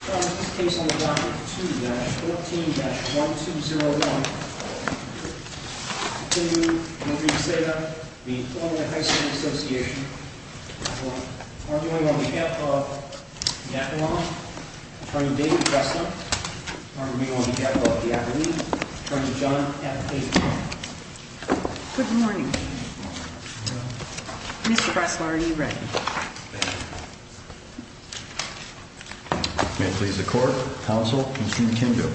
This case is on the docket 2-14-1201, Kindu v. Zeta v. Illinois High School Association We are arguing on behalf of the Avalon, Attorney David Breslau. We are arguing on behalf of the Avaline, Attorney John F. Hayden. Good morning. Mr. Breslau, are you ready? May it please the court, counsel, Mr. McKindu.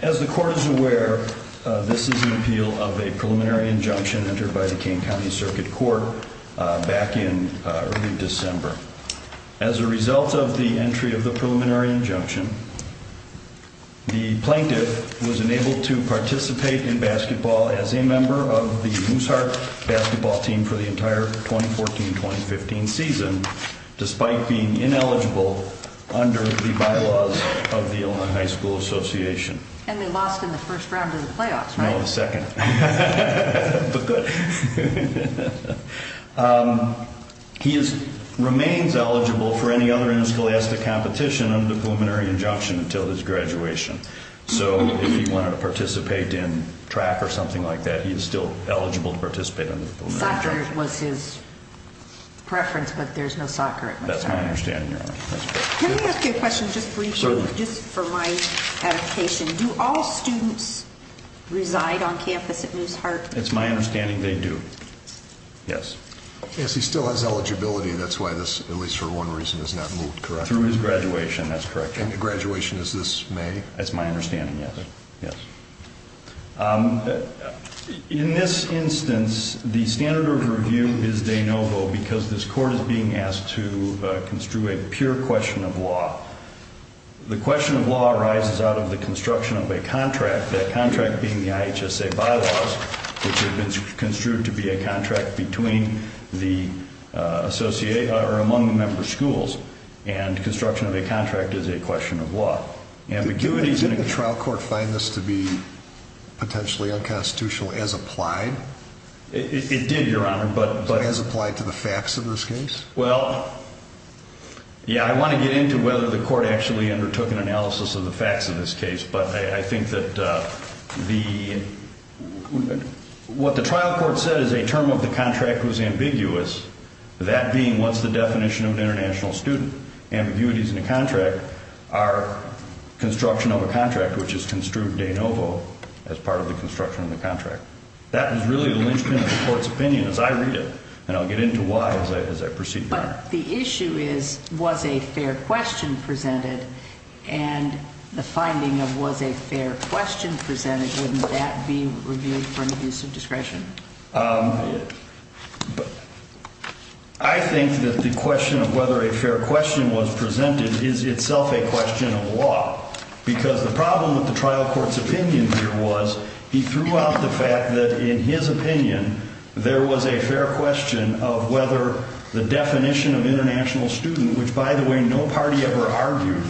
As the court is aware, this is an appeal of a preliminary injunction entered by the Kean County Circuit Court back in early December. As a result of the entry of the preliminary injunction, the plaintiff was enabled to participate in basketball as a member of the Mooseheart basketball team for the entire 2014-2015 season, despite being ineligible under the bylaws of the Illinois High School Association. And they lost in the first round of the playoffs, right? No, the second. But good. He remains eligible for any other interscholastic competition under the preliminary injunction until his graduation. So if he wanted to participate in track or something like that, he is still eligible to participate under the preliminary injunction. Soccer was his preference, but there's no soccer at Mooseheart. That's my understanding, Your Honor. Can I ask you a question just briefly? Certainly. Just for my adaptation. Do all students reside on campus at Mooseheart? It's my understanding they do. Yes. Yes, he still has eligibility, and that's why this, at least for one reason, has not moved correctly. Through his graduation, that's correct, Your Honor. And the graduation is this May? That's my understanding, yes. In this instance, the standard of review is de novo because this court is being asked to construe a pure question of law. The question of law arises out of the construction of a contract, that contract being the IHSA bylaws, which have been construed to be a contract between the associate or among the member schools, and construction of a contract is a question of law. Did the trial court find this to be potentially unconstitutional as applied? It did, Your Honor, but... As applied to the facts of this case? Well, yeah, I want to get into whether the court actually undertook an analysis of the facts of this case, but I think that what the trial court said is a term of the contract was ambiguous, that being what's the definition of an international student? Ambiguities in a contract are construction of a contract, which is construed de novo as part of the construction of the contract. That is really the linchpin of the court's opinion as I read it, and I'll get into why as I proceed, Your Honor. But the issue is was a fair question presented, and the finding of was a fair question presented, wouldn't that be reviewed for an abuse of discretion? I think that the question of whether a fair question was presented is itself a question of law because the problem with the trial court's opinion here was he threw out the fact that in his opinion, there was a fair question of whether the definition of international student, which, by the way, no party ever argued,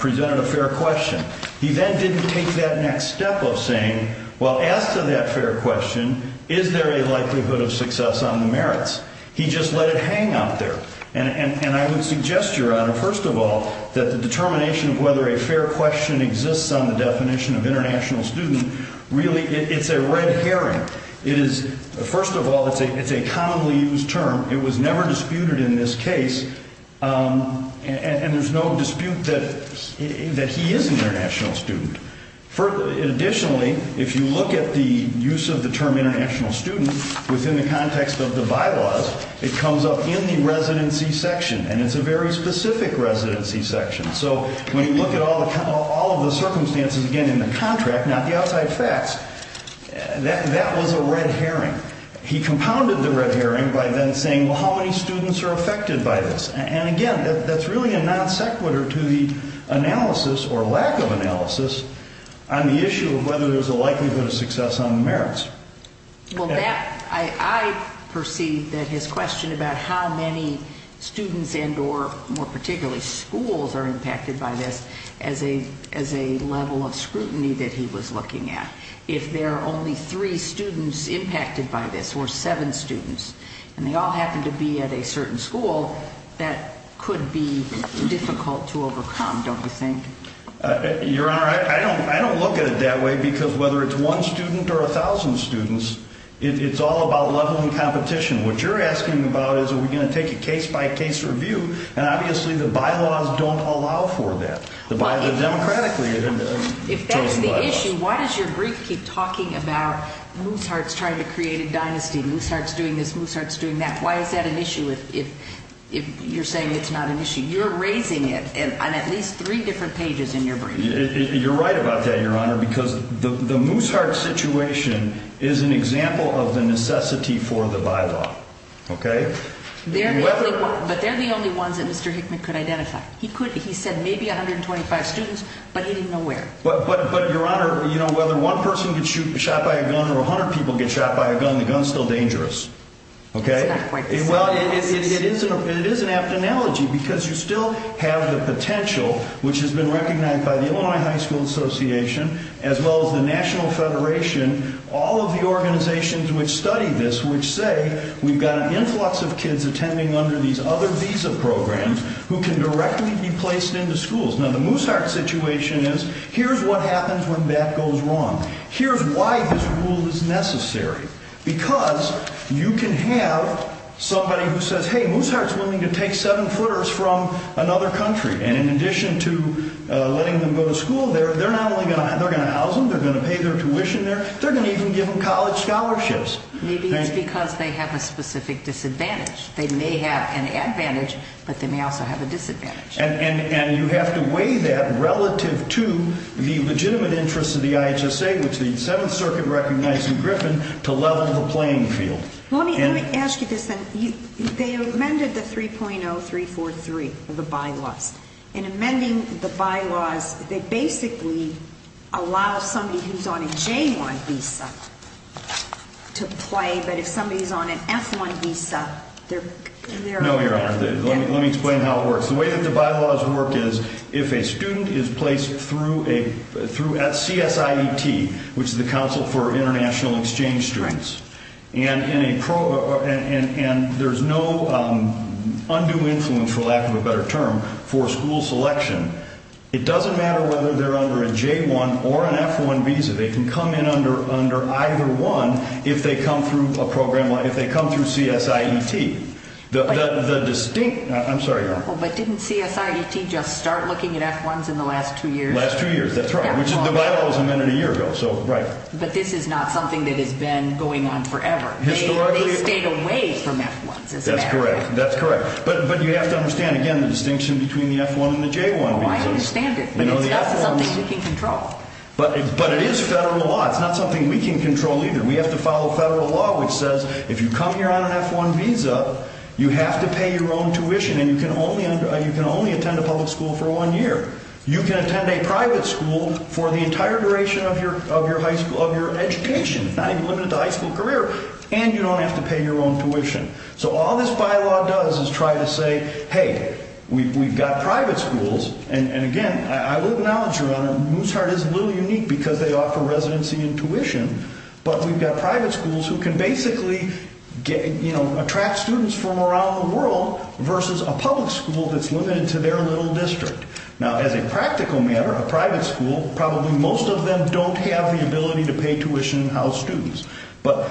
presented a fair question. He then didn't take that next step of saying, well, as to that fair question, is there a likelihood of success on the merits? He just let it hang out there. And I would suggest, Your Honor, first of all, that the determination of whether a fair question exists on the definition of international student, really it's a red herring. First of all, it's a commonly used term. It was never disputed in this case, and there's no dispute that he is an international student. Additionally, if you look at the use of the term international student within the context of the bylaws, it comes up in the residency section, and it's a very specific residency section. So when you look at all of the circumstances, again, in the contract, not the outside facts, that was a red herring. He compounded the red herring by then saying, well, how many students are affected by this? And, again, that's really a non sequitur to the analysis or lack of analysis on the issue of whether there's a likelihood of success on the merits. Well, that, I perceive that his question about how many students and or more particularly schools are impacted by this as a level of scrutiny that he was looking at. If there are only three students impacted by this or seven students, and they all happen to be at a certain school, that could be difficult to overcome, don't you think? Your Honor, I don't look at it that way because whether it's one student or a thousand students, it's all about level and competition. What you're asking about is are we going to take a case-by-case review, and obviously the bylaws don't allow for that. The bylaws are democratically chosen bylaws. If that's the issue, why does your brief keep talking about Mooseheart's trying to create a dynasty, Mooseheart's doing this, Mooseheart's doing that? Why is that an issue if you're saying it's not an issue? You're raising it on at least three different pages in your brief. You're right about that, Your Honor, because the Mooseheart situation is an example of the necessity for the bylaw, okay? But they're the only ones that Mr. Hickman could identify. He said maybe 125 students, but he didn't know where. But, Your Honor, whether one person gets shot by a gun or 100 people get shot by a gun, the gun's still dangerous, okay? Well, it is an apt analogy because you still have the potential, which has been recognized by the Illinois High School Association as well as the National Federation, all of the organizations which study this, which say we've got an influx of kids attending under these other visa programs who can directly be placed into schools. Now, the Mooseheart situation is here's what happens when that goes wrong. Here's why this rule is necessary, because you can have somebody who says, hey, Mooseheart's willing to take seven-footers from another country, and in addition to letting them go to school there, they're not only going to house them, they're going to pay their tuition there, they're going to even give them college scholarships. Maybe it's because they have a specific disadvantage. They may have an advantage, but they may also have a disadvantage. And you have to weigh that relative to the legitimate interests of the IHSA, which the Seventh Circuit recognized in Griffin, to level the playing field. Let me ask you this then. They amended the 3.0343, the bylaws. In amending the bylaws, they basically allow somebody who's on a J-1 visa to play, but if somebody's on an F-1 visa, they're... No, Your Honor. Let me explain how it works. The way that the bylaws work is if a student is placed through CSIET, which is the Council for International Exchange Students, and there's no undue influence, for lack of a better term, for school selection, it doesn't matter whether they're under a J-1 or an F-1 visa. They can come in under either one if they come through CSIET. I'm sorry, Your Honor. But didn't CSIET just start looking at F-1s in the last two years? Last two years, that's right, which the bylaws amended a year ago. But this is not something that has been going on forever. Historically... They stayed away from F-1s. That's correct. But you have to understand, again, the distinction between the F-1 and the J-1 visas. I understand it, but it's not something we can control. But it is federal law. It's not something we can control either. We have to follow federal law, which says if you come here on an F-1 visa, you have to pay your own tuition, and you can only attend a public school for one year. You can attend a private school for the entire duration of your education. It's not even limited to high school career. And you don't have to pay your own tuition. So all this bylaw does is try to say, hey, we've got private schools. And, again, I will acknowledge, Your Honor, Moose Heart is a little unique because they offer residency and tuition. But we've got private schools who can basically attract students from around the world versus a public school that's limited to their little district. Now, as a practical matter, a private school, probably most of them don't have the ability to pay tuition and house students. But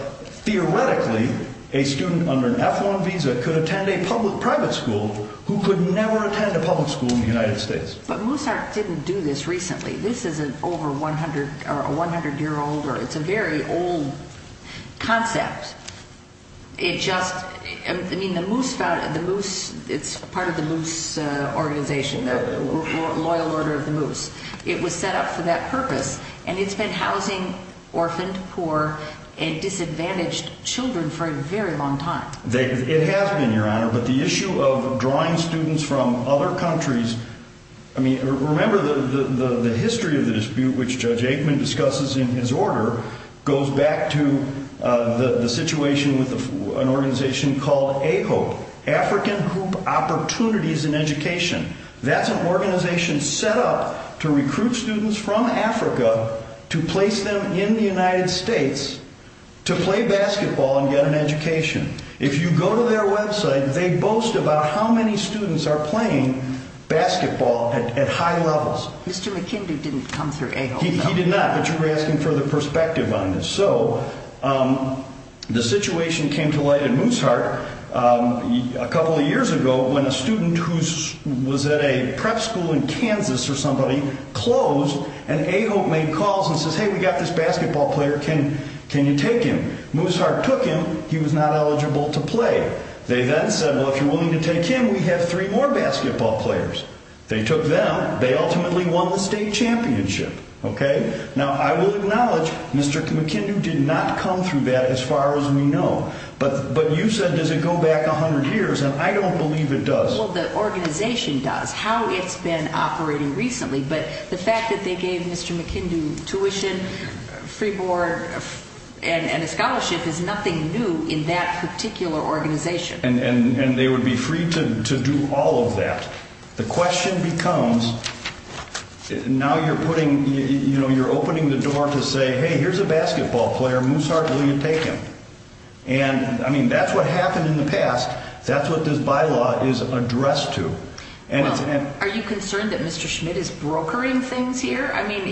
theoretically, a student under an F-1 visa could attend a public private school who could never attend a public school in the United States. But Moose Heart didn't do this recently. This is an over 100-year-old, or it's a very old concept. It just – I mean, the Moose – it's part of the Moose organization, the Loyal Order of the Moose. It was set up for that purpose. And it's been housing orphaned, poor, and disadvantaged children for a very long time. It has been, Your Honor. But the issue of drawing students from other countries – I mean, remember the history of the dispute, which Judge Aikman discusses in his order, goes back to the situation with an organization called AHOPE, African Group Opportunities in Education. That's an organization set up to recruit students from Africa to place them in the United States to play basketball and get an education. If you go to their website, they boast about how many students are playing basketball at high levels. Mr. McKinley didn't come through AHOPE. He did not, but you were asking for the perspective on this. So the situation came to light at Mooseheart a couple of years ago when a student who was at a prep school in Kansas or somebody closed, and AHOPE made calls and says, hey, we got this basketball player. Can you take him? Mooseheart took him. He was not eligible to play. They then said, well, if you're willing to take him, we have three more basketball players. They took them. They ultimately won the state championship. Now, I will acknowledge Mr. McKinley did not come through that as far as we know. But you said, does it go back 100 years? And I don't believe it does. Well, the organization does, how it's been operating recently. But the fact that they gave Mr. McKinley tuition, free board, and a scholarship is nothing new in that particular organization. And they would be free to do all of that. The question becomes, now you're putting, you know, you're opening the door to say, hey, here's a basketball player. Mooseheart, will you take him? And, I mean, that's what happened in the past. That's what this bylaw is addressed to. Are you concerned that Mr. Schmidt is brokering things here? I mean,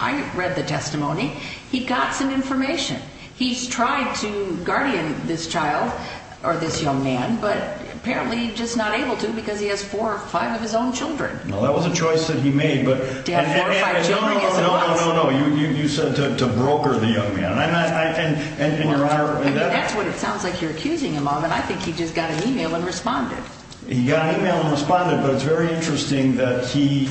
I read the testimony. He got some information. He's tried to guardian this child or this young man, but apparently he's just not able to because he has four or five of his own children. Well, that was a choice that he made. To have four or five children is a loss. No, no, no, no, no. You said to broker the young man. Well, that's what it sounds like you're accusing him of. And I think he just got an email and responded. He got an email and responded, but it's very interesting that he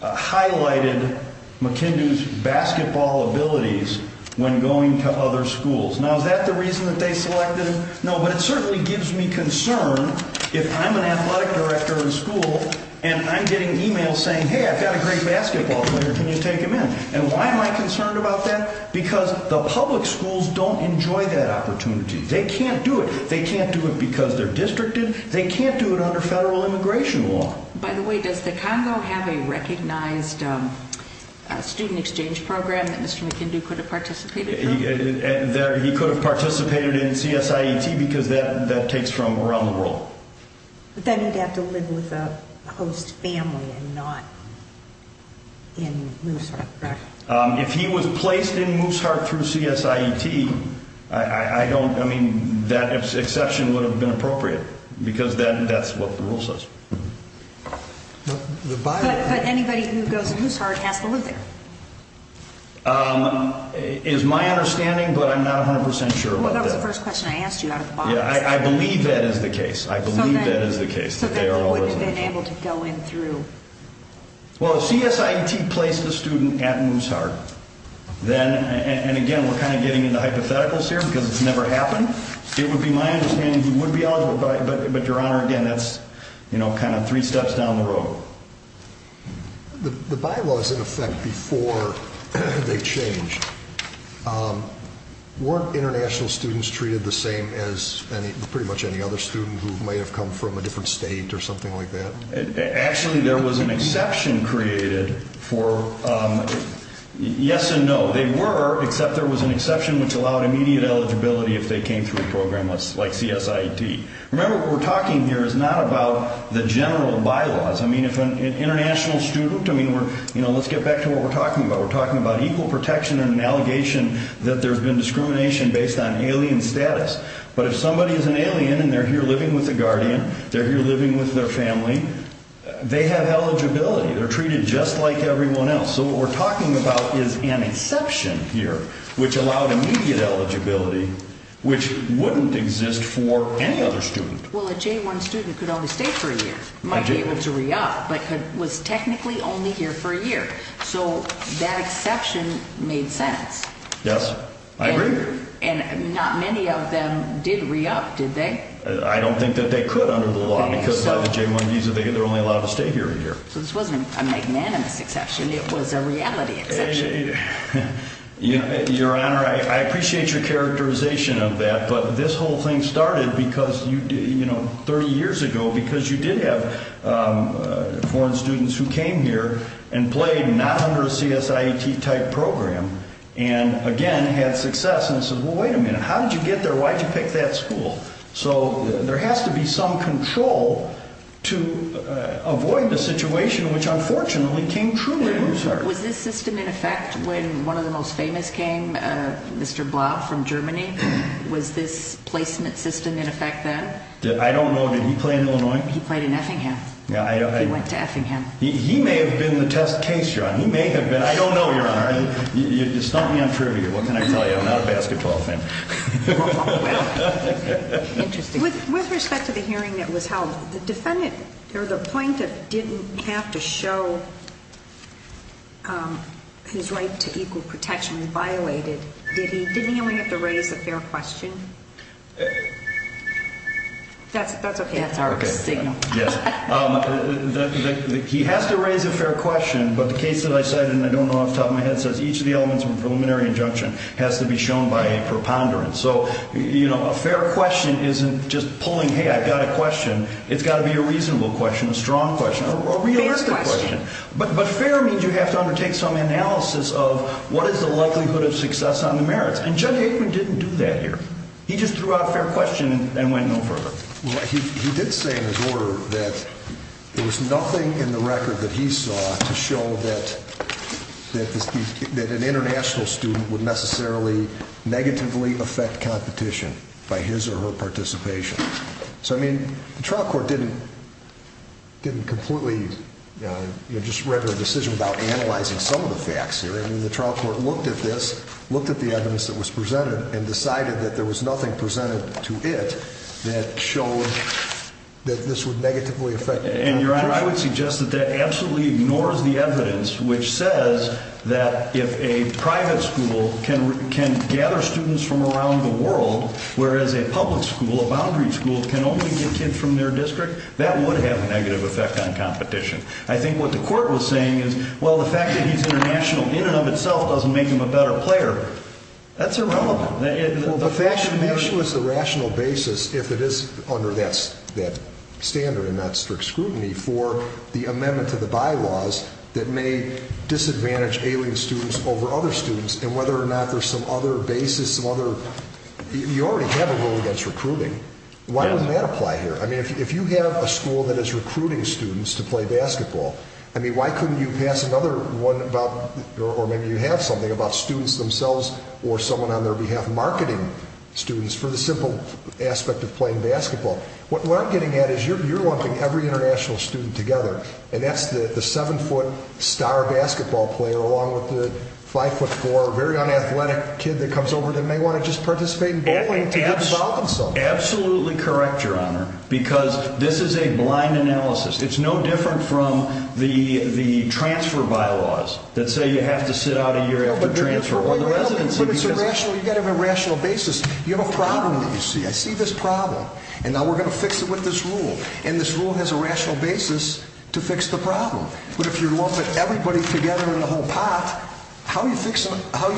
highlighted McKendoo's basketball abilities when going to other schools. Now, is that the reason that they selected him? No, but it certainly gives me concern if I'm an athletic director in school and I'm getting emails saying, hey, I've got a great basketball player. Can you take him in? And why am I concerned about that? Because the public schools don't enjoy that opportunity. They can't do it. They can't do it because they're districted. They can't do it under federal immigration law. By the way, does the Congo have a recognized student exchange program that Mr. McKendoo could have participated in? He could have participated in CSIET because that takes from around the world. But then he'd have to live with a host family and not in Mooseheart, correct? If he was placed in Mooseheart through CSIET, I mean, that exception would have been appropriate because that's what the rule says. But anybody who goes to Mooseheart has to live there. It is my understanding, but I'm not 100 percent sure about that. Well, that was the first question I asked you out of the box. Yeah, I believe that is the case. I believe that is the case. So they wouldn't have been able to go in through? Well, CSIET placed the student at Mooseheart. And again, we're kind of getting into hypotheticals here because it's never happened. It would be my understanding he would be eligible, but, Your Honor, again, that's kind of three steps down the road. The bylaws, in effect, before they changed, weren't international students treated the same as pretty much any other student who may have come from a different state or something like that? Actually, there was an exception created for yes and no. They were, except there was an exception which allowed immediate eligibility if they came through a program like CSIET. Remember, what we're talking here is not about the general bylaws. I mean, if an international student, I mean, let's get back to what we're talking about. We're talking about equal protection and an allegation that there's been discrimination based on alien status. But if somebody is an alien and they're here living with a guardian, they're here living with their family, they have eligibility. They're treated just like everyone else. So what we're talking about is an exception here which allowed immediate eligibility which wouldn't exist for any other student. Well, a J-1 student could only stay for a year. Might be able to re-up, but was technically only here for a year. So that exception made sense. Yes, I agree. And not many of them did re-up, did they? I don't think that they could under the law because by the J-1 visa they're only allowed to stay here a year. So this wasn't a magnanimous exception. It was a reality exception. Your Honor, I appreciate your characterization of that. But this whole thing started because, you know, 30 years ago because you did have foreign students who came here and played not under a CSIET-type program and, again, had success and said, well, wait a minute. How did you get there? Why did you pick that school? So there has to be some control to avoid the situation which, unfortunately, came true in New York. Was this system in effect when one of the most famous came, Mr. Blau from Germany? Was this placement system in effect then? I don't know. Did he play in Illinois? He played in Effingham. He went to Effingham. He may have been the test case, Your Honor. He may have been. I don't know, Your Honor. You stumped me on trivia. What can I tell you? I'm not a basketball fan. Interesting. With respect to the hearing that was held, the defendant or the plaintiff didn't have to show his right to equal protection. It was violated. Didn't he only have to raise a fair question? That's okay. That's our signal. Yes. He has to raise a fair question, but the case that I cited, and I don't know off the top of my head, says each of the elements of a preliminary injunction has to be shown by a preponderance. So, you know, a fair question isn't just pulling, hey, I've got a question. It's got to be a reasonable question, a strong question, a realistic question. But fair means you have to undertake some analysis of what is the likelihood of success on the merits, and Judge Aikman didn't do that here. He just threw out a fair question and went no further. He did say in his order that there was nothing in the record that he saw to show that an international student would necessarily negatively affect competition by his or her participation. So, I mean, the trial court didn't completely just render a decision without analyzing some of the facts here. I mean, the trial court looked at this, looked at the evidence that was presented, and decided that there was nothing presented to it that showed that this would negatively affect competition. And, Your Honor, I would suggest that that absolutely ignores the evidence which says that if a private school can gather students from around the world, whereas a public school, a boundary school, can only get kids from their district, that would have a negative effect on competition. I think what the court was saying is, well, the fact that he's international in and of itself doesn't make him a better player. That's irrelevant. Well, the fact that that issue is the rational basis, if it is under that standard and not strict scrutiny, for the amendment to the bylaws that may disadvantage alien students over other students, and whether or not there's some other basis, some other, you already have a rule against recruiting. Why wouldn't that apply here? I mean, if you have a school that is recruiting students to play basketball, I mean, why couldn't you pass another one about, or maybe you have something, about students themselves or someone on their behalf marketing students for the simple aspect of playing basketball? What we're getting at is you're lumping every international student together, and that's the 7-foot star basketball player along with the 5'4", very unathletic kid that comes over that may want to just participate in bowling to get involved in something. Absolutely correct, Your Honor, because this is a blind analysis. It's no different from the transfer bylaws that say you have to sit out a year after transfer or the residency because— But it's a rational, you've got to have a rational basis. You have a problem that you see. I see this problem, and now we're going to fix it with this rule, and this rule has a rational basis to fix the problem. But if you're lumping everybody together in the whole pot, how are you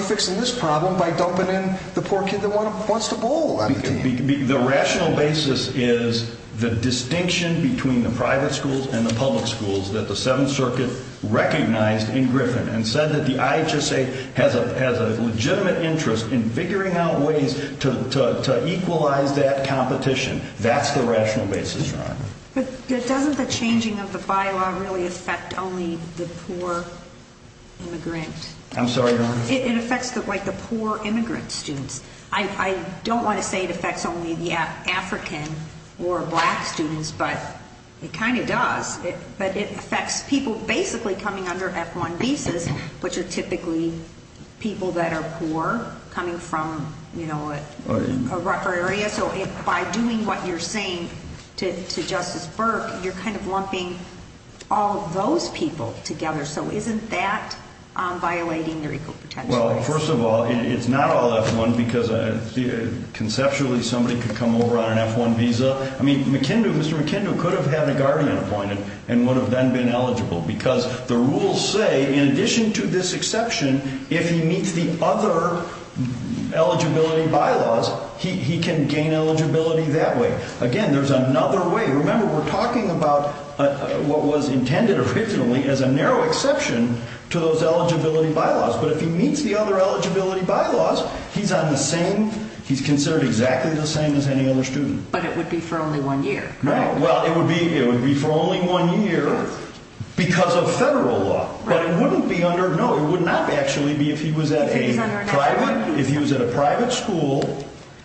fixing this problem by dumping in the poor kid that wants to bowl on the team? The rational basis is the distinction between the private schools and the public schools that the Seventh Circuit recognized in Griffin and said that the IHSA has a legitimate interest in figuring out ways to equalize that competition. That's the rational basis, Your Honor. But doesn't the changing of the bylaw really affect only the poor immigrant? I'm sorry, Your Honor? It affects the poor immigrant students. I don't want to say it affects only the African or black students, but it kind of does. But it affects people basically coming under F-1 visas, which are typically people that are poor coming from, you know, a rougher area. So by doing what you're saying to Justice Burke, you're kind of lumping all of those people together. So isn't that violating their equal potential? Well, first of all, it's not all F-1 because conceptually somebody could come over on an F-1 visa. I mean, McKendoo, Mr. McKendoo, could have had a guardian appointed and would have then been eligible because the rules say in addition to this exception, if he meets the other eligibility bylaws, he can gain eligibility that way. Again, there's another way. Remember, we're talking about what was intended originally as a narrow exception to those eligibility bylaws. But if he meets the other eligibility bylaws, he's on the same – he's considered exactly the same as any other student. But it would be for only one year, correct? Well, it would be for only one year because of federal law. But it wouldn't be under – no, it would not actually be if he was at a private – if he was at a private school,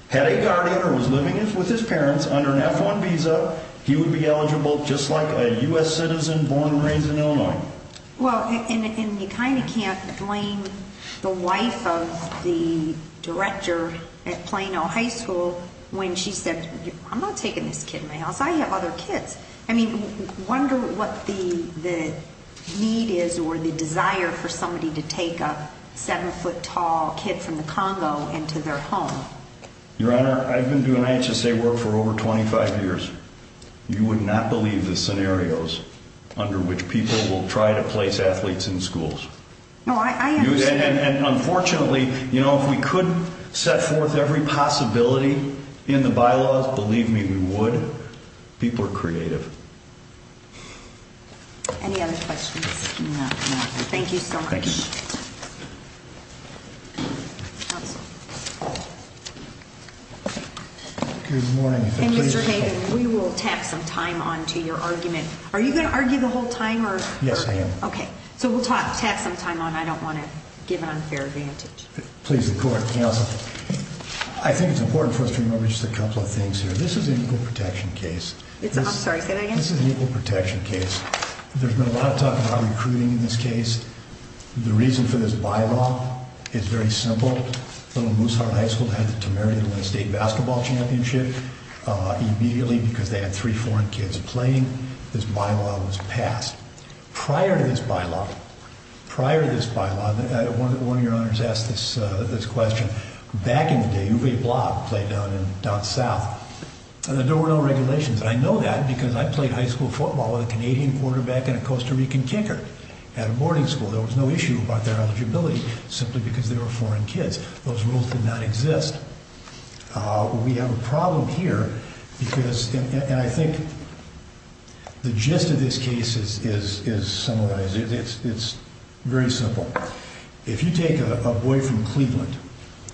had a guardian or was living with his parents under an F-1 visa, he would be eligible just like a U.S. citizen born and raised in Illinois. Well, and you kind of can't blame the wife of the director at Plano High School when she said, I'm not taking this kid in my house. I have other kids. I mean, wonder what the need is or the desire for somebody to take a 7-foot tall kid from the Congo into their home. Your Honor, I've been doing IHSA work for over 25 years. You would not believe the scenarios under which people will try to place athletes in schools. No, I understand. And unfortunately, you know, if we could set forth every possibility in the bylaws, believe me, we would. People are creative. Any other questions? No, no. Thank you so much. Thank you. Good morning. And Mr. Hayden, we will tap some time on to your argument. Are you going to argue the whole time? Yes, I am. Okay. So we'll tap some time on. I don't want to give an unfair advantage. Please, the court, counsel. I think it's important for us to remember just a couple of things here. This is an equal protection case. I'm sorry, say that again? This is an equal protection case. There's been a lot of talk about recruiting in this case. The reason for this bylaw is very simple. Little Mooseheart High School had to marry the state basketball championship immediately because they had three foreign kids playing. This bylaw was passed. Prior to this bylaw, prior to this bylaw, one of your honors asked this question. Back in the day, Uwe Blatt played down south. And there were no regulations. And I know that because I played high school football with a Canadian quarterback and a Costa Rican kicker at a boarding school. There was no issue about their eligibility simply because they were foreign kids. Those rules did not exist. We have a problem here because, and I think the gist of this case is similar. It's very simple. If you take a boy from Cleveland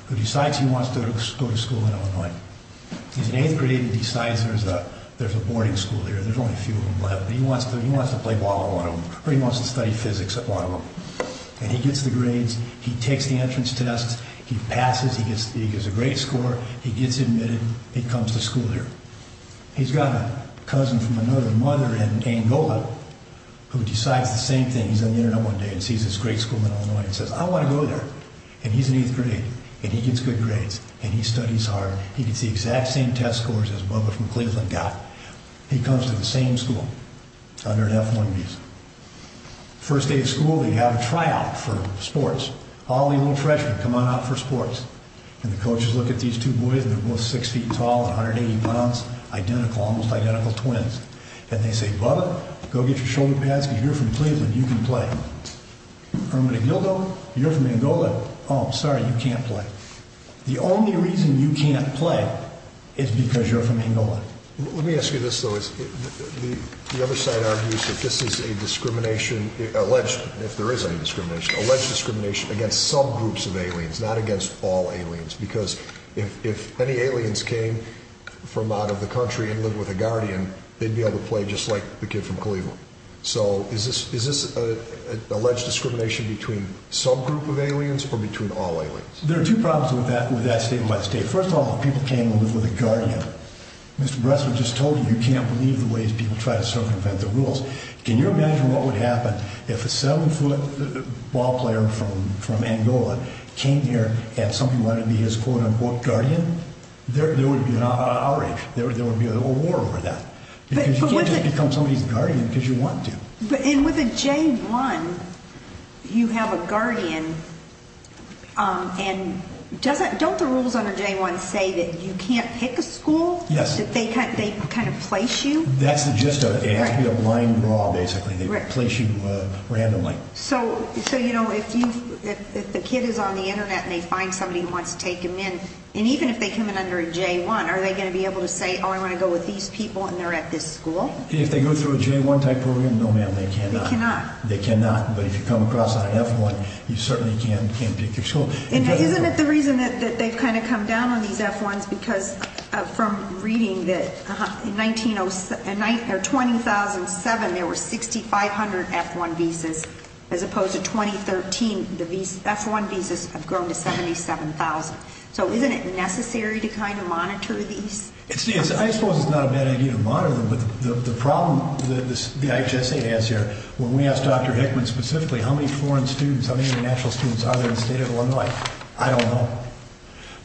who decides he wants to go to school in Illinois. He's in eighth grade and decides there's a boarding school here. There's only a few of them left. He wants to play ball at one of them or he wants to study physics at one of them. And he gets the grades. He takes the entrance tests. He passes. He gets a great score. He gets admitted. He comes to school here. He's got a cousin from another mother in Angola who decides the same thing. He's on the Internet one day and sees this great school in Illinois and says, I want to go there. And he's in eighth grade. And he gets good grades. And he studies hard. He gets the exact same test scores as Bubba from Cleveland got. He comes to the same school under an F1 visa. First day of school, they have a tryout for sports. All the little freshmen come on out for sports. And the coaches look at these two boys, and they're both six feet tall and 180 pounds. Identical, almost identical twins. And they say, Bubba, go get your shoulder pads because you're from Cleveland. You can play. Herman Aguildo, you're from Angola. Oh, I'm sorry, you can't play. The only reason you can't play is because you're from Angola. Let me ask you this, though. The other side argues that this is a discrimination, alleged, if there is any discrimination, alleged discrimination against subgroups of aliens, not against all aliens. Because if any aliens came from out of the country and lived with a guardian, they'd be able to play just like the kid from Cleveland. So is this alleged discrimination between subgroup of aliens or between all aliens? There are two problems with that statement by the state. First of all, people came and lived with a guardian. Mr. Bressler just told you you can't believe the ways people try to circumvent the rules. Can you imagine what would happen if a seven-foot ball player from Angola came here and somebody wanted to be his quote-unquote guardian? There would be an outrage. There would be a war over that. Because you can't just become somebody's guardian because you want to. And with a J-1, you have a guardian. And don't the rules under J-1 say that you can't pick a school? Yes. They kind of place you? That's the gist of it. It has to be a line draw, basically. They place you randomly. So, you know, if the kid is on the Internet and they find somebody who wants to take him in, and even if they come in under a J-1, are they going to be able to say, oh, I want to go with these people and they're at this school? If they go through a J-1 type program, no, ma'am, they cannot. They cannot. They cannot. But if you come across on an F-1, you certainly can pick your school. And isn't it the reason that they've kind of come down on these F-1s? Because from reading that in 2007 there were 6,500 F-1 visas, as opposed to 2013 the F-1 visas have grown to 77,000. So isn't it necessary to kind of monitor these? I suppose it's not a bad idea to monitor them, but the problem the IHSA has here, when we asked Dr. Hickman specifically how many foreign students, how many international students are there in the state of Illinois, I don't know.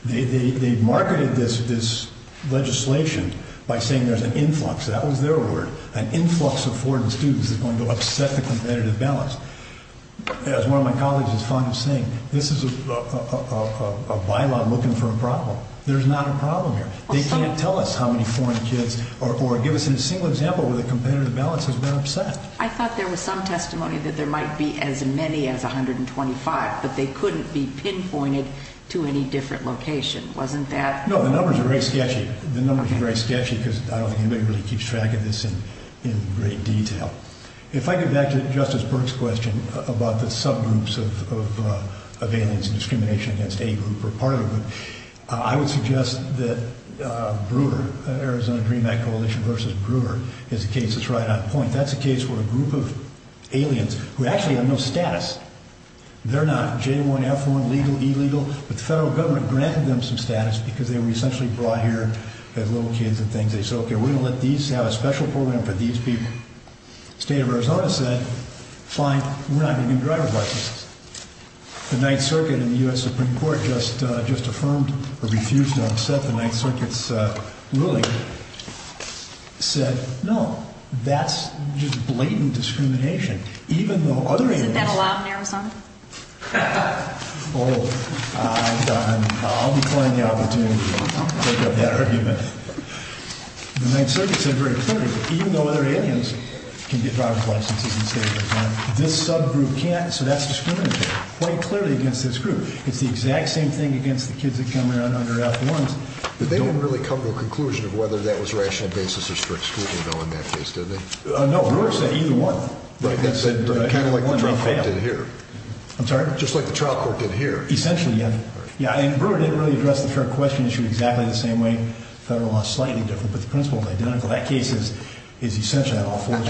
They've marketed this legislation by saying there's an influx. That was their word. An influx of foreign students is going to upset the competitive balance. As one of my colleagues is fond of saying, this is a bylaw looking for a problem. There's not a problem here. They can't tell us how many foreign kids, or give us a single example where the competitive balance has been upset. I thought there was some testimony that there might be as many as 125, but they couldn't be pinpointed to any different location. Wasn't that? No, the numbers are very sketchy. The numbers are very sketchy because I don't think anybody really keeps track of this in great detail. If I get back to Justice Burke's question about the subgroups of aliens, discrimination against a group or part of a group, I would suggest that Brewer, Arizona Dream Act Coalition versus Brewer, is a case that's right on point. That's a case where a group of aliens, who actually have no status, they're not J1, F1, legal, illegal, but the federal government granted them some status because they were essentially brought here as little kids and things. They said, okay, we're going to let these have a special program for these people. The state of Arizona said, fine, we're not going to do driver's licenses. The Ninth Circuit in the U.S. Supreme Court just affirmed or refused to upset the Ninth Circuit's ruling. It said, no, that's just blatant discrimination, even though other aliens Isn't that allowed in Arizona? Oh, I'll decline the opportunity to take up that argument. The Ninth Circuit said very clearly, even though other aliens can get driver's licenses in the state of Arizona, this subgroup can't, so that's discriminatory, quite clearly against this group. It's the exact same thing against the kids that come around under F1s. But they didn't really come to a conclusion of whether that was rational basis or strict scrutiny, though, in that case, did they? No, Brewer said either one. Right, that's kind of like the trial court did here. I'm sorry? Just like the trial court did here. Essentially, yeah. Brewer didn't really address the fair question issue exactly the same way. Federal law is slightly different, but the principle is identical. That case is essentially on all fours.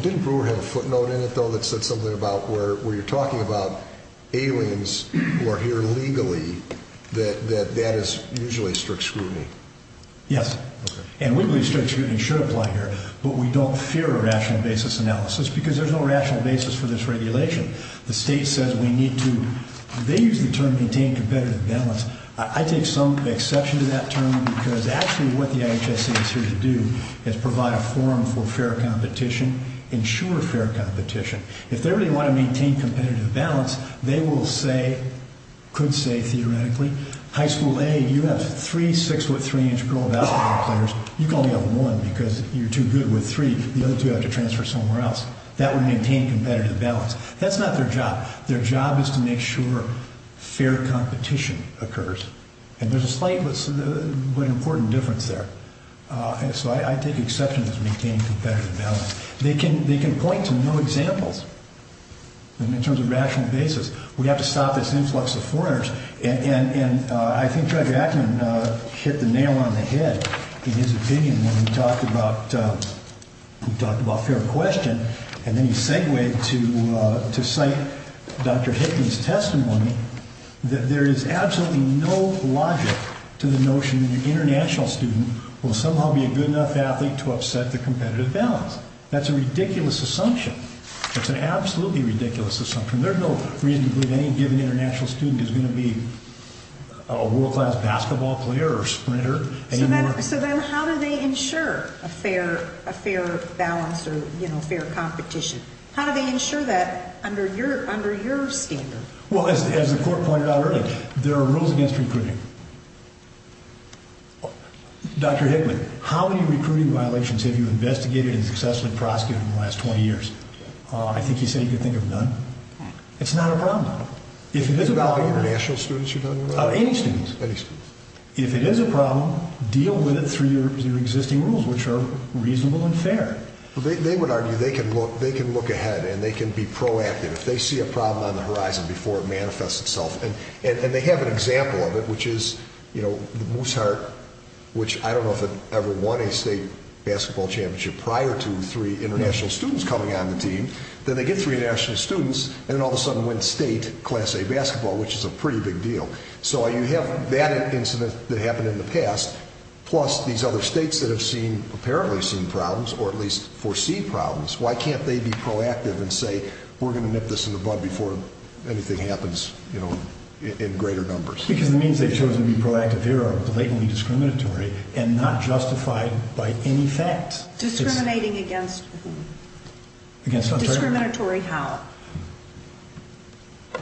Didn't Brewer have a footnote in it, though, that said something about where you're talking about aliens who are here legally, that that is usually strict scrutiny? Yes. And we believe strict scrutiny should apply here, but we don't fear a rational basis analysis because there's no rational basis for this regulation. The state says we need to, they use the term maintain competitive balance. I take some exception to that term because actually what the IHSC is here to do is provide a forum for fair competition, ensure fair competition. If they really want to maintain competitive balance, they will say, could say theoretically, high school A, you have three 6'3'' girl basketball players. You can only have one because you're too good with three. The other two have to transfer somewhere else. That would maintain competitive balance. That's not their job. Their job is to make sure fair competition occurs. And there's a slight but important difference there. So I take exception to maintaining competitive balance. They can point to no examples in terms of rational basis. And I think Dr. Ackman hit the nail on the head in his opinion when he talked about fair question. And then he segued to cite Dr. Hickman's testimony that there is absolutely no logic to the notion that an international student will somehow be a good enough athlete to upset the competitive balance. That's a ridiculous assumption. It's an absolutely ridiculous assumption. There's no reason to believe any given international student is going to be a world-class basketball player or sprinter anymore. So then how do they ensure a fair balance or fair competition? How do they ensure that under your standard? Well, as the court pointed out earlier, there are rules against recruiting. Dr. Hickman, how many recruiting violations have you investigated and successfully prosecuted in the last 20 years? I think he said you could think of none. It's not a problem. Are you talking about the international students you're talking about? Any students. Any students. If it is a problem, deal with it through your existing rules, which are reasonable and fair. They would argue they can look ahead and they can be proactive if they see a problem on the horizon before it manifests itself. And they have an example of it, which is the Moose Heart, which I don't know if it ever won a state basketball championship prior to three international students coming on the team. Then they get three international students and then all of a sudden win state class A basketball, which is a pretty big deal. So you have that incident that happened in the past, plus these other states that have apparently seen problems or at least foresee problems. Why can't they be proactive and say we're going to nip this in the bud before anything happens in greater numbers? Because the means they've chosen to be proactive here are blatantly discriminatory and not justified by any fact. Discriminating against whom? Against who? Discriminatory how?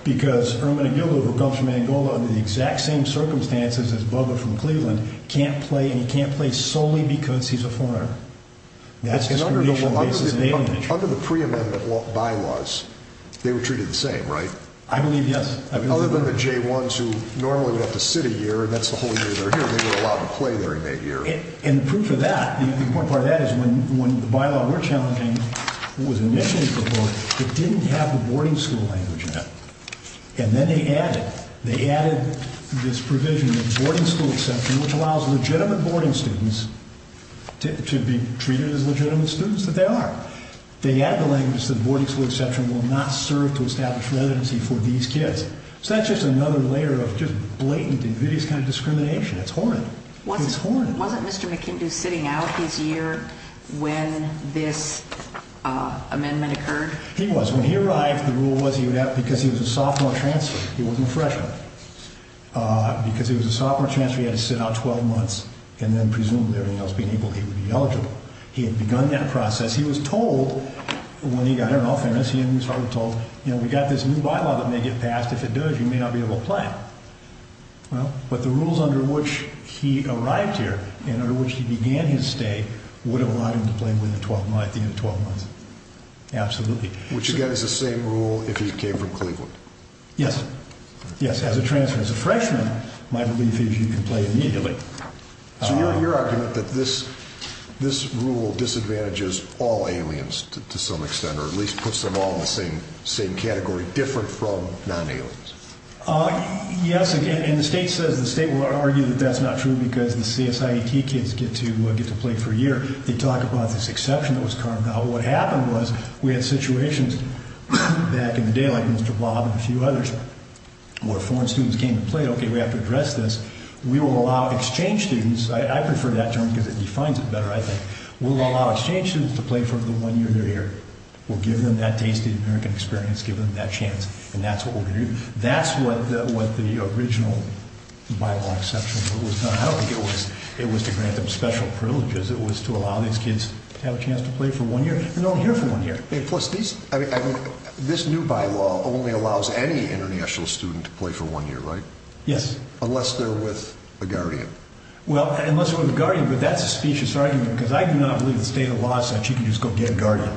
Because Herman Aguilo, who comes from Angola under the exact same circumstances as Bubba from Cleveland, can't play and he can't play solely because he's a foreigner. Under the pre-amendment bylaws, they were treated the same, right? I believe yes. Other than the J-1s who normally would have to sit a year and that's the whole year they're here, they were allowed to play their inmate year. And the proof of that, the important part of that is when the bylaw we're challenging was initially proposed, it didn't have the boarding school language in it. And then they added, they added this provision of boarding school exception which allows legitimate boarding students to be treated as legitimate students that they are. They add the language that boarding school exception will not serve to establish residency for these kids. So that's just another layer of just blatant and hideous kind of discrimination. It's horrid. It's horrid. Wasn't Mr. McIndoe sitting out his year when this amendment occurred? He was. When he arrived, the rule was he would have, because he was a sophomore transfer, he wasn't a freshman. Because he was a sophomore transfer, he had to sit out 12 months and then presumably everything else being able, he would be eligible. He had begun that process. He was told when he got, I don't know, famous, he was probably told, you know, we got this new bylaw that may get passed. If it does, you may not be able to play. Well, but the rules under which he arrived here and under which he began his stay would have allowed him to play within 12, at the end of 12 months. Absolutely. Which again is the same rule if he came from Cleveland. Yes. Yes, as a transfer. As a freshman, my belief is you can play immediately. So your argument that this rule disadvantages all aliens to some extent, or at least puts them all in the same category, different from non-aliens. Yes, and the state says, the state will argue that that's not true because the CSIET kids get to play for a year. They talk about this exception that was carved out. What happened was we had situations back in the day like Mr. Bob and a few others where foreign students came to play. Okay, we have to address this. We will allow exchange students. I prefer that term because it defines it better, I think. We'll allow exchange students to play for the one year they're here. We'll give them that tasty American experience, give them that chance, and that's what we'll do. That's what the original bylaw exception was done. I don't think it was to grant them special privileges. It was to allow these kids to have a chance to play for one year. They're only here for one year. Plus, this new bylaw only allows any international student to play for one year, right? Yes. Unless they're with a guardian. Well, unless they're with a guardian, but that's a specious argument because I do not believe the state of law says you can just go get a guardian.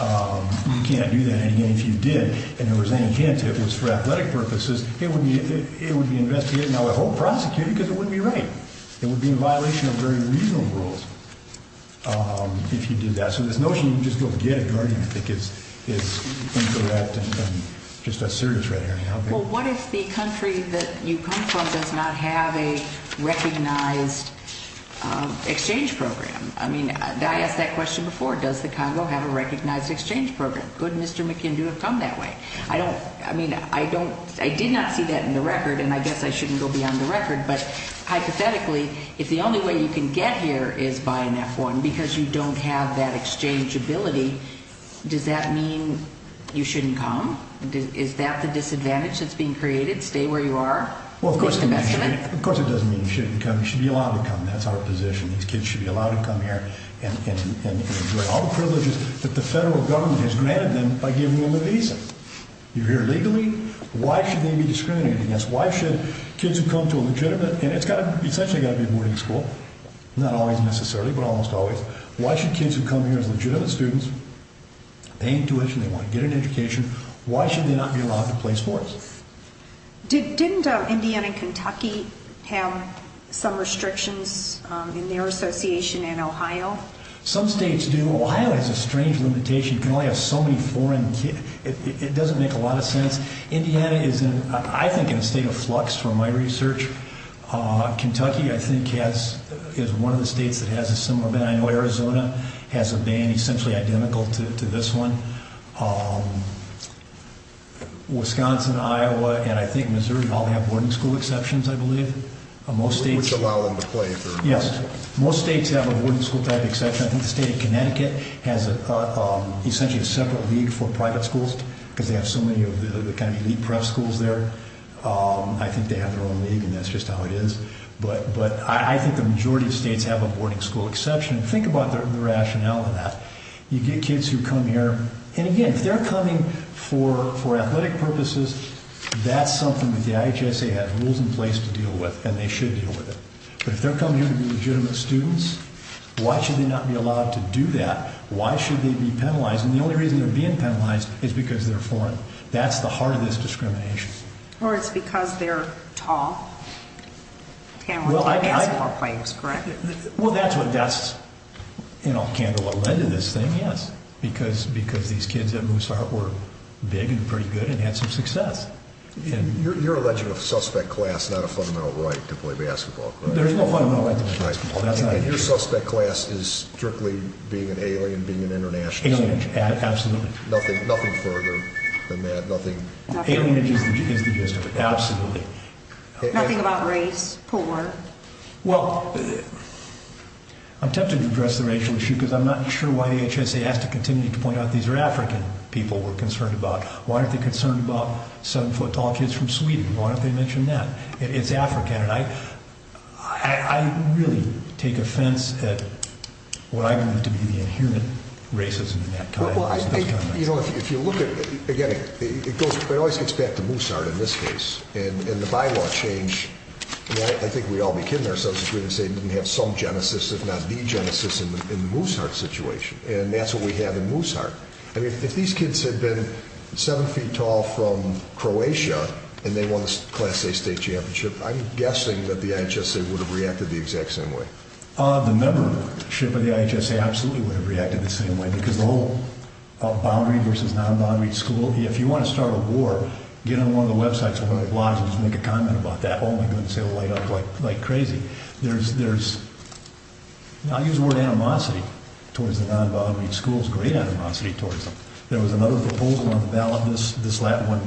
You can't do that. If you did, and there was any chance it was for athletic purposes, it would be investigated and I would hope prosecuted because it wouldn't be right. It would be in violation of very reasonable rules if you did that. So this notion you can just go get a guardian, I think, is incorrect and just as serious right now. Well, what if the country that you come from does not have a recognized exchange program? I mean, I asked that question before. Does the Congo have a recognized exchange program? Could Mr. McKinn do have come that way? I mean, I did not see that in the record, and I guess I shouldn't go beyond the record, but hypothetically, if the only way you can get here is by an F-1 because you don't have that exchangeability, does that mean you shouldn't come? Is that the disadvantage that's being created, stay where you are? Of course it doesn't mean you shouldn't come. You should be allowed to come. That's our position. These kids should be allowed to come here and enjoy all the privileges that the federal government has granted them by giving them a visa. You're here legally. Why should they be discriminated against? Why should kids who come to a legitimate, and it's essentially got to be a boarding school, not always necessarily, but almost always, why should kids who come here as legitimate students, they need tuition, they want to get an education, why should they not be allowed to play sports? Didn't Indiana and Kentucky have some restrictions in their association and Ohio? Some states do. Ohio has a strange limitation. You can only have so many foreign kids. It doesn't make a lot of sense. Indiana is, I think, in a state of flux from my research. Kentucky, I think, is one of the states that has a similar ban. I know Arizona has a ban essentially identical to this one. Wisconsin, Iowa, and I think Missouri all have boarding school exceptions, I believe. Which allow them to play. Yes. Most states have a boarding school type exception. I think the state of Connecticut has essentially a separate league for private schools because they have so many of the elite prep schools there. I think they have their own league, and that's just how it is. But I think the majority of states have a boarding school exception. Think about the rationale of that. You get kids who come here, and again, if they're coming for athletic purposes, that's something that the IHSA has rules in place to deal with, and they should deal with it. But if they're coming here to be legitimate students, why should they not be allowed to do that? Why should they be penalized? And the only reason they're being penalized is because they're foreign. That's the heart of this discrimination. Or it's because they're tall. And we're talking basketball players, correct? Well, that's what led to this thing, yes. Because these kids at Moose Heart were big and pretty good and had some success. You're alleging of suspect class not a fundamental right to play basketball, correct? There's no fundamental right to play basketball. And your suspect class is strictly being an alien, being an international student? Alienage, absolutely. Nothing further than that? Alienage is the gist of it, absolutely. Nothing about race, poor? Well, I'm tempted to address the racial issue because I'm not sure why the IHSA has to continue to point out these are African people we're concerned about. Why aren't they concerned about seven-foot-tall kids from Sweden? Why don't they mention that? It's African. And I really take offense at what I believe to be the inherent racism in that context. If you look at it, again, it always gets back to Moose Heart in this case. And the bylaw change, I think we'd all be kidding ourselves if we didn't say it didn't have some genesis, if not the genesis, in the Moose Heart situation. And that's what we have in Moose Heart. If these kids had been seven feet tall from Croatia and they won the Class A state championship, I'm guessing that the IHSA would have reacted the exact same way. The membership of the IHSA absolutely would have reacted the same way because the whole boundary versus non-boundary school, if you want to start a war, get on one of the websites or one of the blogs and just make a comment about that. Oh my goodness, it will light up like crazy. There's, I'll use the word animosity towards the non-boundary schools, great animosity towards them. There was another proposal on the ballot this last one,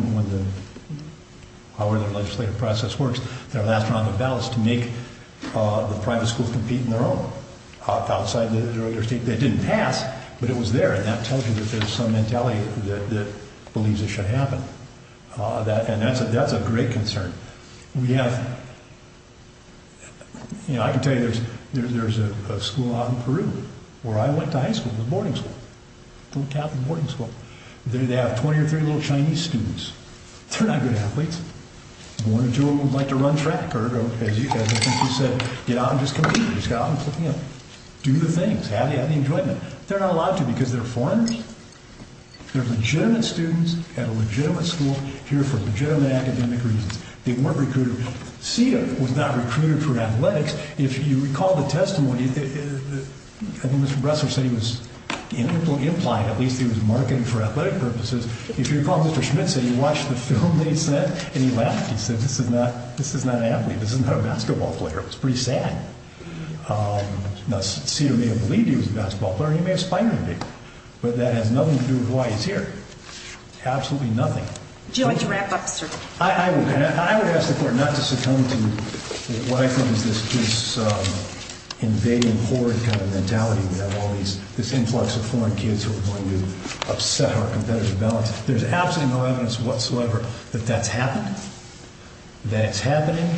how their legislative process works. Their last round of ballots to make the private schools compete in their own, outside their state. That didn't pass, but it was there, and that tells you that there's some mentality that believes it should happen. And that's a great concern. We have, you know, I can tell you there's a school out in Peru where I went to high school, it was a boarding school, a Catholic boarding school. They have 20 or 30 little Chinese students. They're not good athletes. One or two of them would like to run track, or as you guys, I think you said, get out and just compete. Just get out and, you know, do the things, have the enjoyment. They're not allowed to because they're foreigners. They're legitimate students at a legitimate school here for legitimate academic reasons. They weren't recruited. SETA was not recruited for athletics. If you recall the testimony, I think Mr. Bresler said he was implied, at least he was marketing for athletic purposes. If you recall, Mr. Schmidt said he watched the film that he sent, and he laughed. He said, this is not an athlete. This is not a basketball player. It was pretty sad. Now, SETA may have believed he was a basketball player. He may have spied on people. But that has nothing to do with why he's here. Absolutely nothing. Do you like to wrap up, sir? I would ask the court not to succumb to what I think is this invading foreign kind of mentality. We have all these, this influx of foreign kids who are going to upset our competitive balance. There's absolutely no evidence whatsoever that that's happened, that it's happening.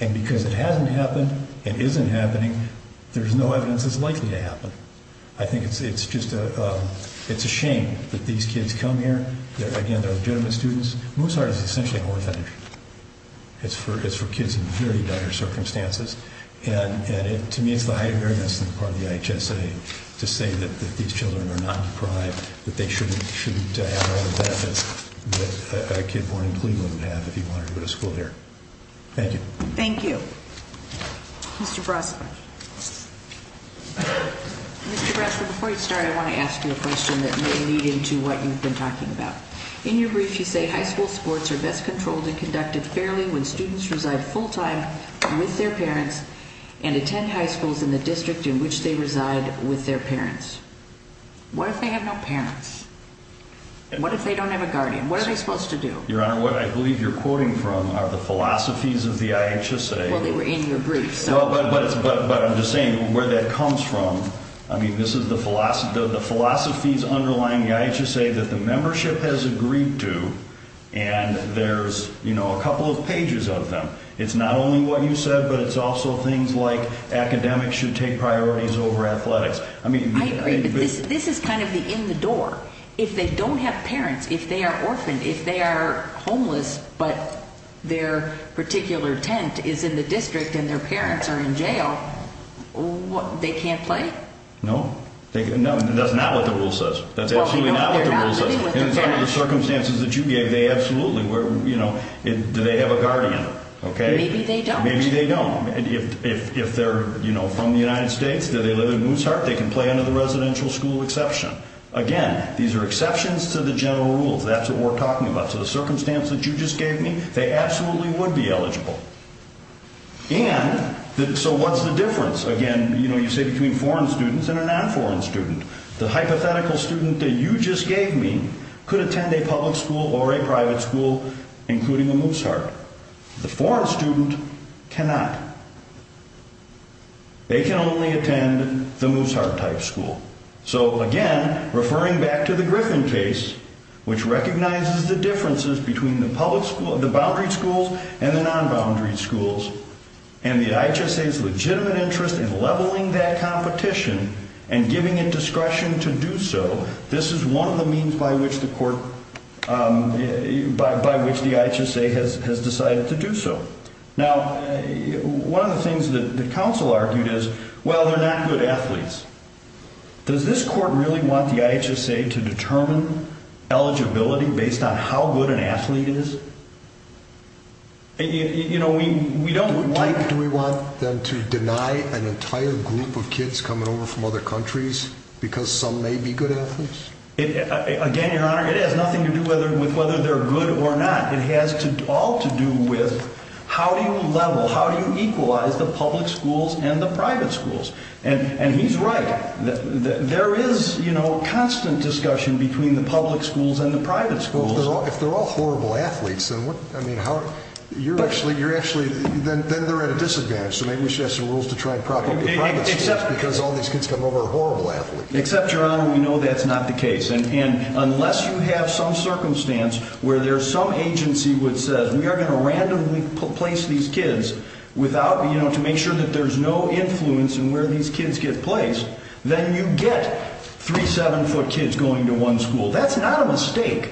And because it hasn't happened, it isn't happening, there's no evidence it's likely to happen. I think it's just a shame that these kids come here. Again, they're legitimate students. Moussard is essentially a whore factory. It's for kids in very dire circumstances. And to me, it's the highest barriers on the part of the IHSA to say that these children are not deprived, that they shouldn't have all the benefits that a kid born in Cleveland would have if he wanted to go to school here. Thank you. Thank you. Mr. Brasler. Mr. Brasler, before you start, I want to ask you a question that may lead into what you've been talking about. In your brief, you say high school sports are best controlled and conducted fairly when students reside full-time with their parents and attend high schools in the district in which they reside with their parents. What if they have no parents? What if they don't have a guardian? What are they supposed to do? Your Honor, what I believe you're quoting from are the philosophies of the IHSA. Well, they were in your brief. No, but I'm just saying where that comes from. I mean, this is the philosophies underlying the IHSA that the membership has agreed to, and there's a couple of pages of them. It's not only what you said, but it's also things like academics should take priorities over athletics. I agree, but this is kind of the in-the-door. If they don't have parents, if they are orphaned, if they are homeless but their particular tent is in the district and their parents are in jail, they can't play? No, that's not what the rule says. That's absolutely not what the rule says. Well, they're not living with their parents. Under the circumstances that you gave, they absolutely were. Do they have a guardian? Maybe they don't. Maybe they don't. If they're from the United States, do they live in Mooseheart? They can play under the residential school exception. Again, these are exceptions to the general rules. That's what we're talking about. To the circumstance that you just gave me, they absolutely would be eligible. And so what's the difference? Again, you say between foreign students and a non-foreign student. The hypothetical student that you just gave me could attend a public school or a private school, including a Mooseheart. The foreign student cannot. They can only attend the Mooseheart-type school. So, again, referring back to the Griffin case, which recognizes the differences between the boundary schools and the non-boundary schools, and the IHSA's legitimate interest in leveling that competition and giving it discretion to do so, this is one of the means by which the IHSA has decided to do so. Now, one of the things that counsel argued is, well, they're not good athletes. Does this court really want the IHSA to determine eligibility based on how good an athlete is? You know, we don't like... Why do we want them to deny an entire group of kids coming over from other countries because some may be good athletes? Again, Your Honor, it has nothing to do with whether they're good or not. It has all to do with how do you level, how do you equalize the public schools and the private schools? And he's right. There is, you know, constant discussion between the public schools and the private schools. Well, if they're all horrible athletes, then what, I mean, how... You're actually, you're actually, then they're at a disadvantage. So maybe we should have some rules to try and propagate the private schools because all these kids come over are horrible athletes. Except, Your Honor, we know that's not the case. And unless you have some circumstance where there's some agency which says, we are going to randomly place these kids without, you know, to make sure that there's no influence in where these kids get placed, then you get three 7-foot kids going to one school. That's not a mistake.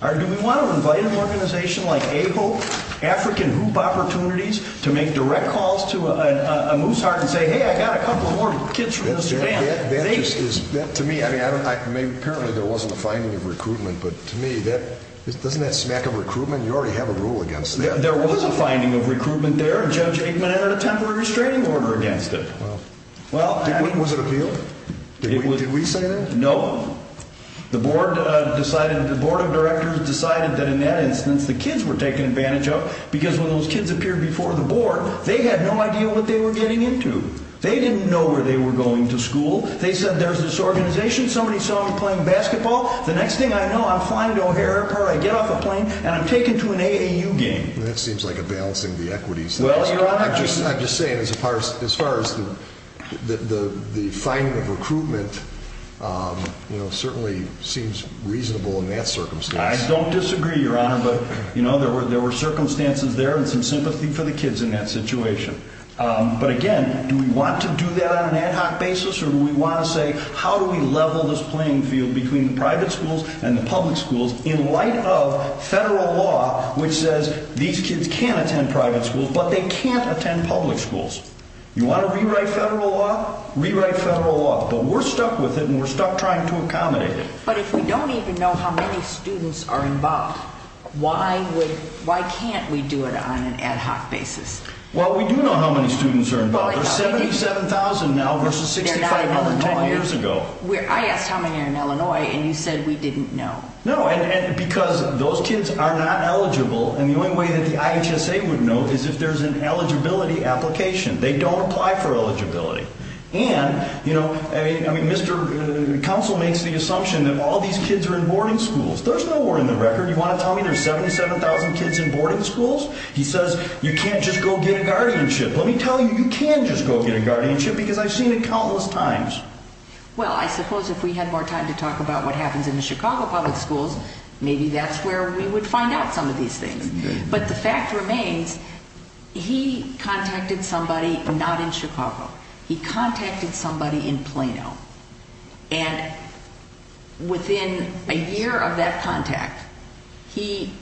Do we want to invite an organization like AHOPE, African Hoop Opportunities, to make direct calls to a moose heart and say, hey, I got a couple more kids from this family. To me, I mean, apparently there wasn't a finding of recruitment, but to me, doesn't that smack of recruitment? You already have a rule against that. There was a finding of recruitment there, and Judge Aikman entered a temporary restraining order against it. Was it appealed? Did we say that? No. The board decided, the board of directors decided that in that instance the kids were taken advantage of because when those kids appeared before the board, they had no idea what they were getting into. They didn't know where they were going to school. They said, there's this organization, somebody saw them playing basketball. The next thing I know, I'm flying to O'Hare Airport, I get off a plane, and I'm taken to an AAU game. That seems like a balancing of the equities thing. Well, Your Honor. I'm just saying, as far as the finding of recruitment, you know, certainly seems reasonable in that circumstance. I don't disagree, Your Honor, but, you know, there were circumstances there and some sympathy for the kids in that situation. But, again, do we want to do that on an ad hoc basis, or do we want to say, how do we level this playing field between the private schools and the public schools in light of federal law which says these kids can't attend private schools, but they can't attend public schools? You want to rewrite federal law? Rewrite federal law. But we're stuck with it, and we're stuck trying to accommodate it. But if we don't even know how many students are involved, why can't we do it on an ad hoc basis? Well, we do know how many students are involved. There's 77,000 now versus 65,000 10 years ago. I asked how many are in Illinois, and you said we didn't know. No, because those kids are not eligible, and the only way that the IHSA would know is if there's an eligibility application. They don't apply for eligibility. And, you know, Mr. Counsel makes the assumption that all these kids are in boarding schools. There's no more in the record. You want to tell me there's 77,000 kids in boarding schools? He says you can't just go get a guardianship. Let me tell you, you can just go get a guardianship because I've seen it countless times. Well, I suppose if we had more time to talk about what happens in the Chicago public schools, maybe that's where we would find out some of these things. But the fact remains, he contacted somebody not in Chicago. He contacted somebody in Plano. And within a year of that contact, he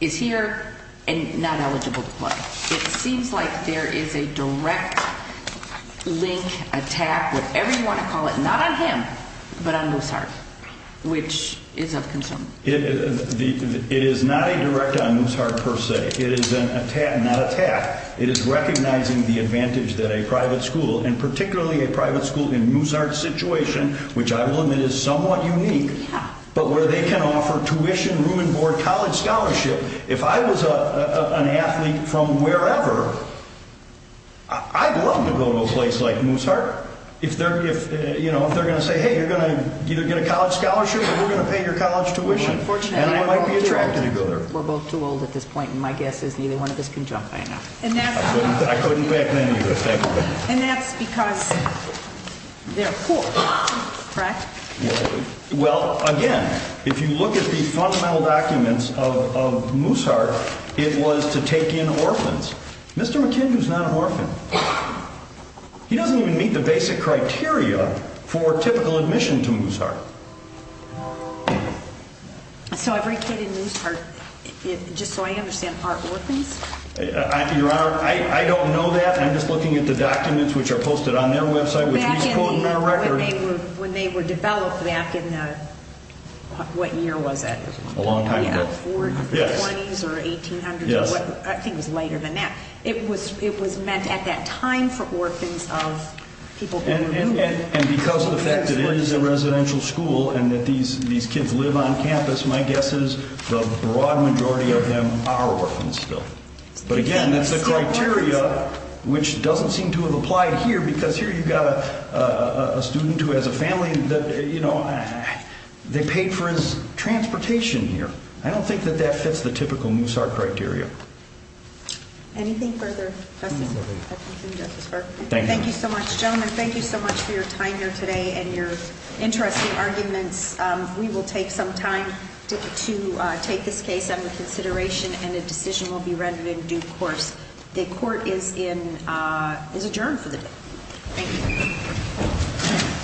is here and not eligible to play. It seems like there is a direct link, attack, whatever you want to call it, not on him but on Mooseheart, which is of concern. It is not a direct on Mooseheart per se. It is an attack, not attack. It is recognizing the advantage that a private school, and particularly a private school in Mooseheart's situation, which I will admit is somewhat unique, but where they can offer tuition, room and board, college scholarship. If I was an athlete from wherever, I'd love to go to a place like Mooseheart. If they're going to say, hey, you're going to either get a college scholarship or we're going to pay your college tuition, then I might be attracted to go there. We're both too old at this point, and my guess is neither one of us can jump high enough. And that's because they're poor, correct? Well, again, if you look at the fundamental documents of Mooseheart, it was to take in orphans. Mr. McKinley is not an orphan. He doesn't even meet the basic criteria for typical admission to Mooseheart. So every kid in Mooseheart, just so I understand, are orphans? Your Honor, I don't know that. I'm just looking at the documents which are posted on their website, which is a quote on our record. When they were developed back in the, what year was it? A long time ago. Yeah, the 1920s or 1800s. Yes. I think it was later than that. It was meant at that time for orphans of people being removed. And because of the fact that it is a residential school and that these kids live on campus, my guess is the broad majority of them are orphans still. But again, that's a criteria which doesn't seem to have applied here, because here you've got a student who has a family that, you know, they paid for his transportation here. I don't think that that fits the typical Mooseheart criteria. Anything further, Justice Hutchinson, Justice Berkley? Thank you. Thank you so much, gentlemen. Thank you so much for your time here today and your interesting arguments. We will take some time to take this case under consideration, and a decision will be rendered in due course. The court is adjourned for the day. Thank you.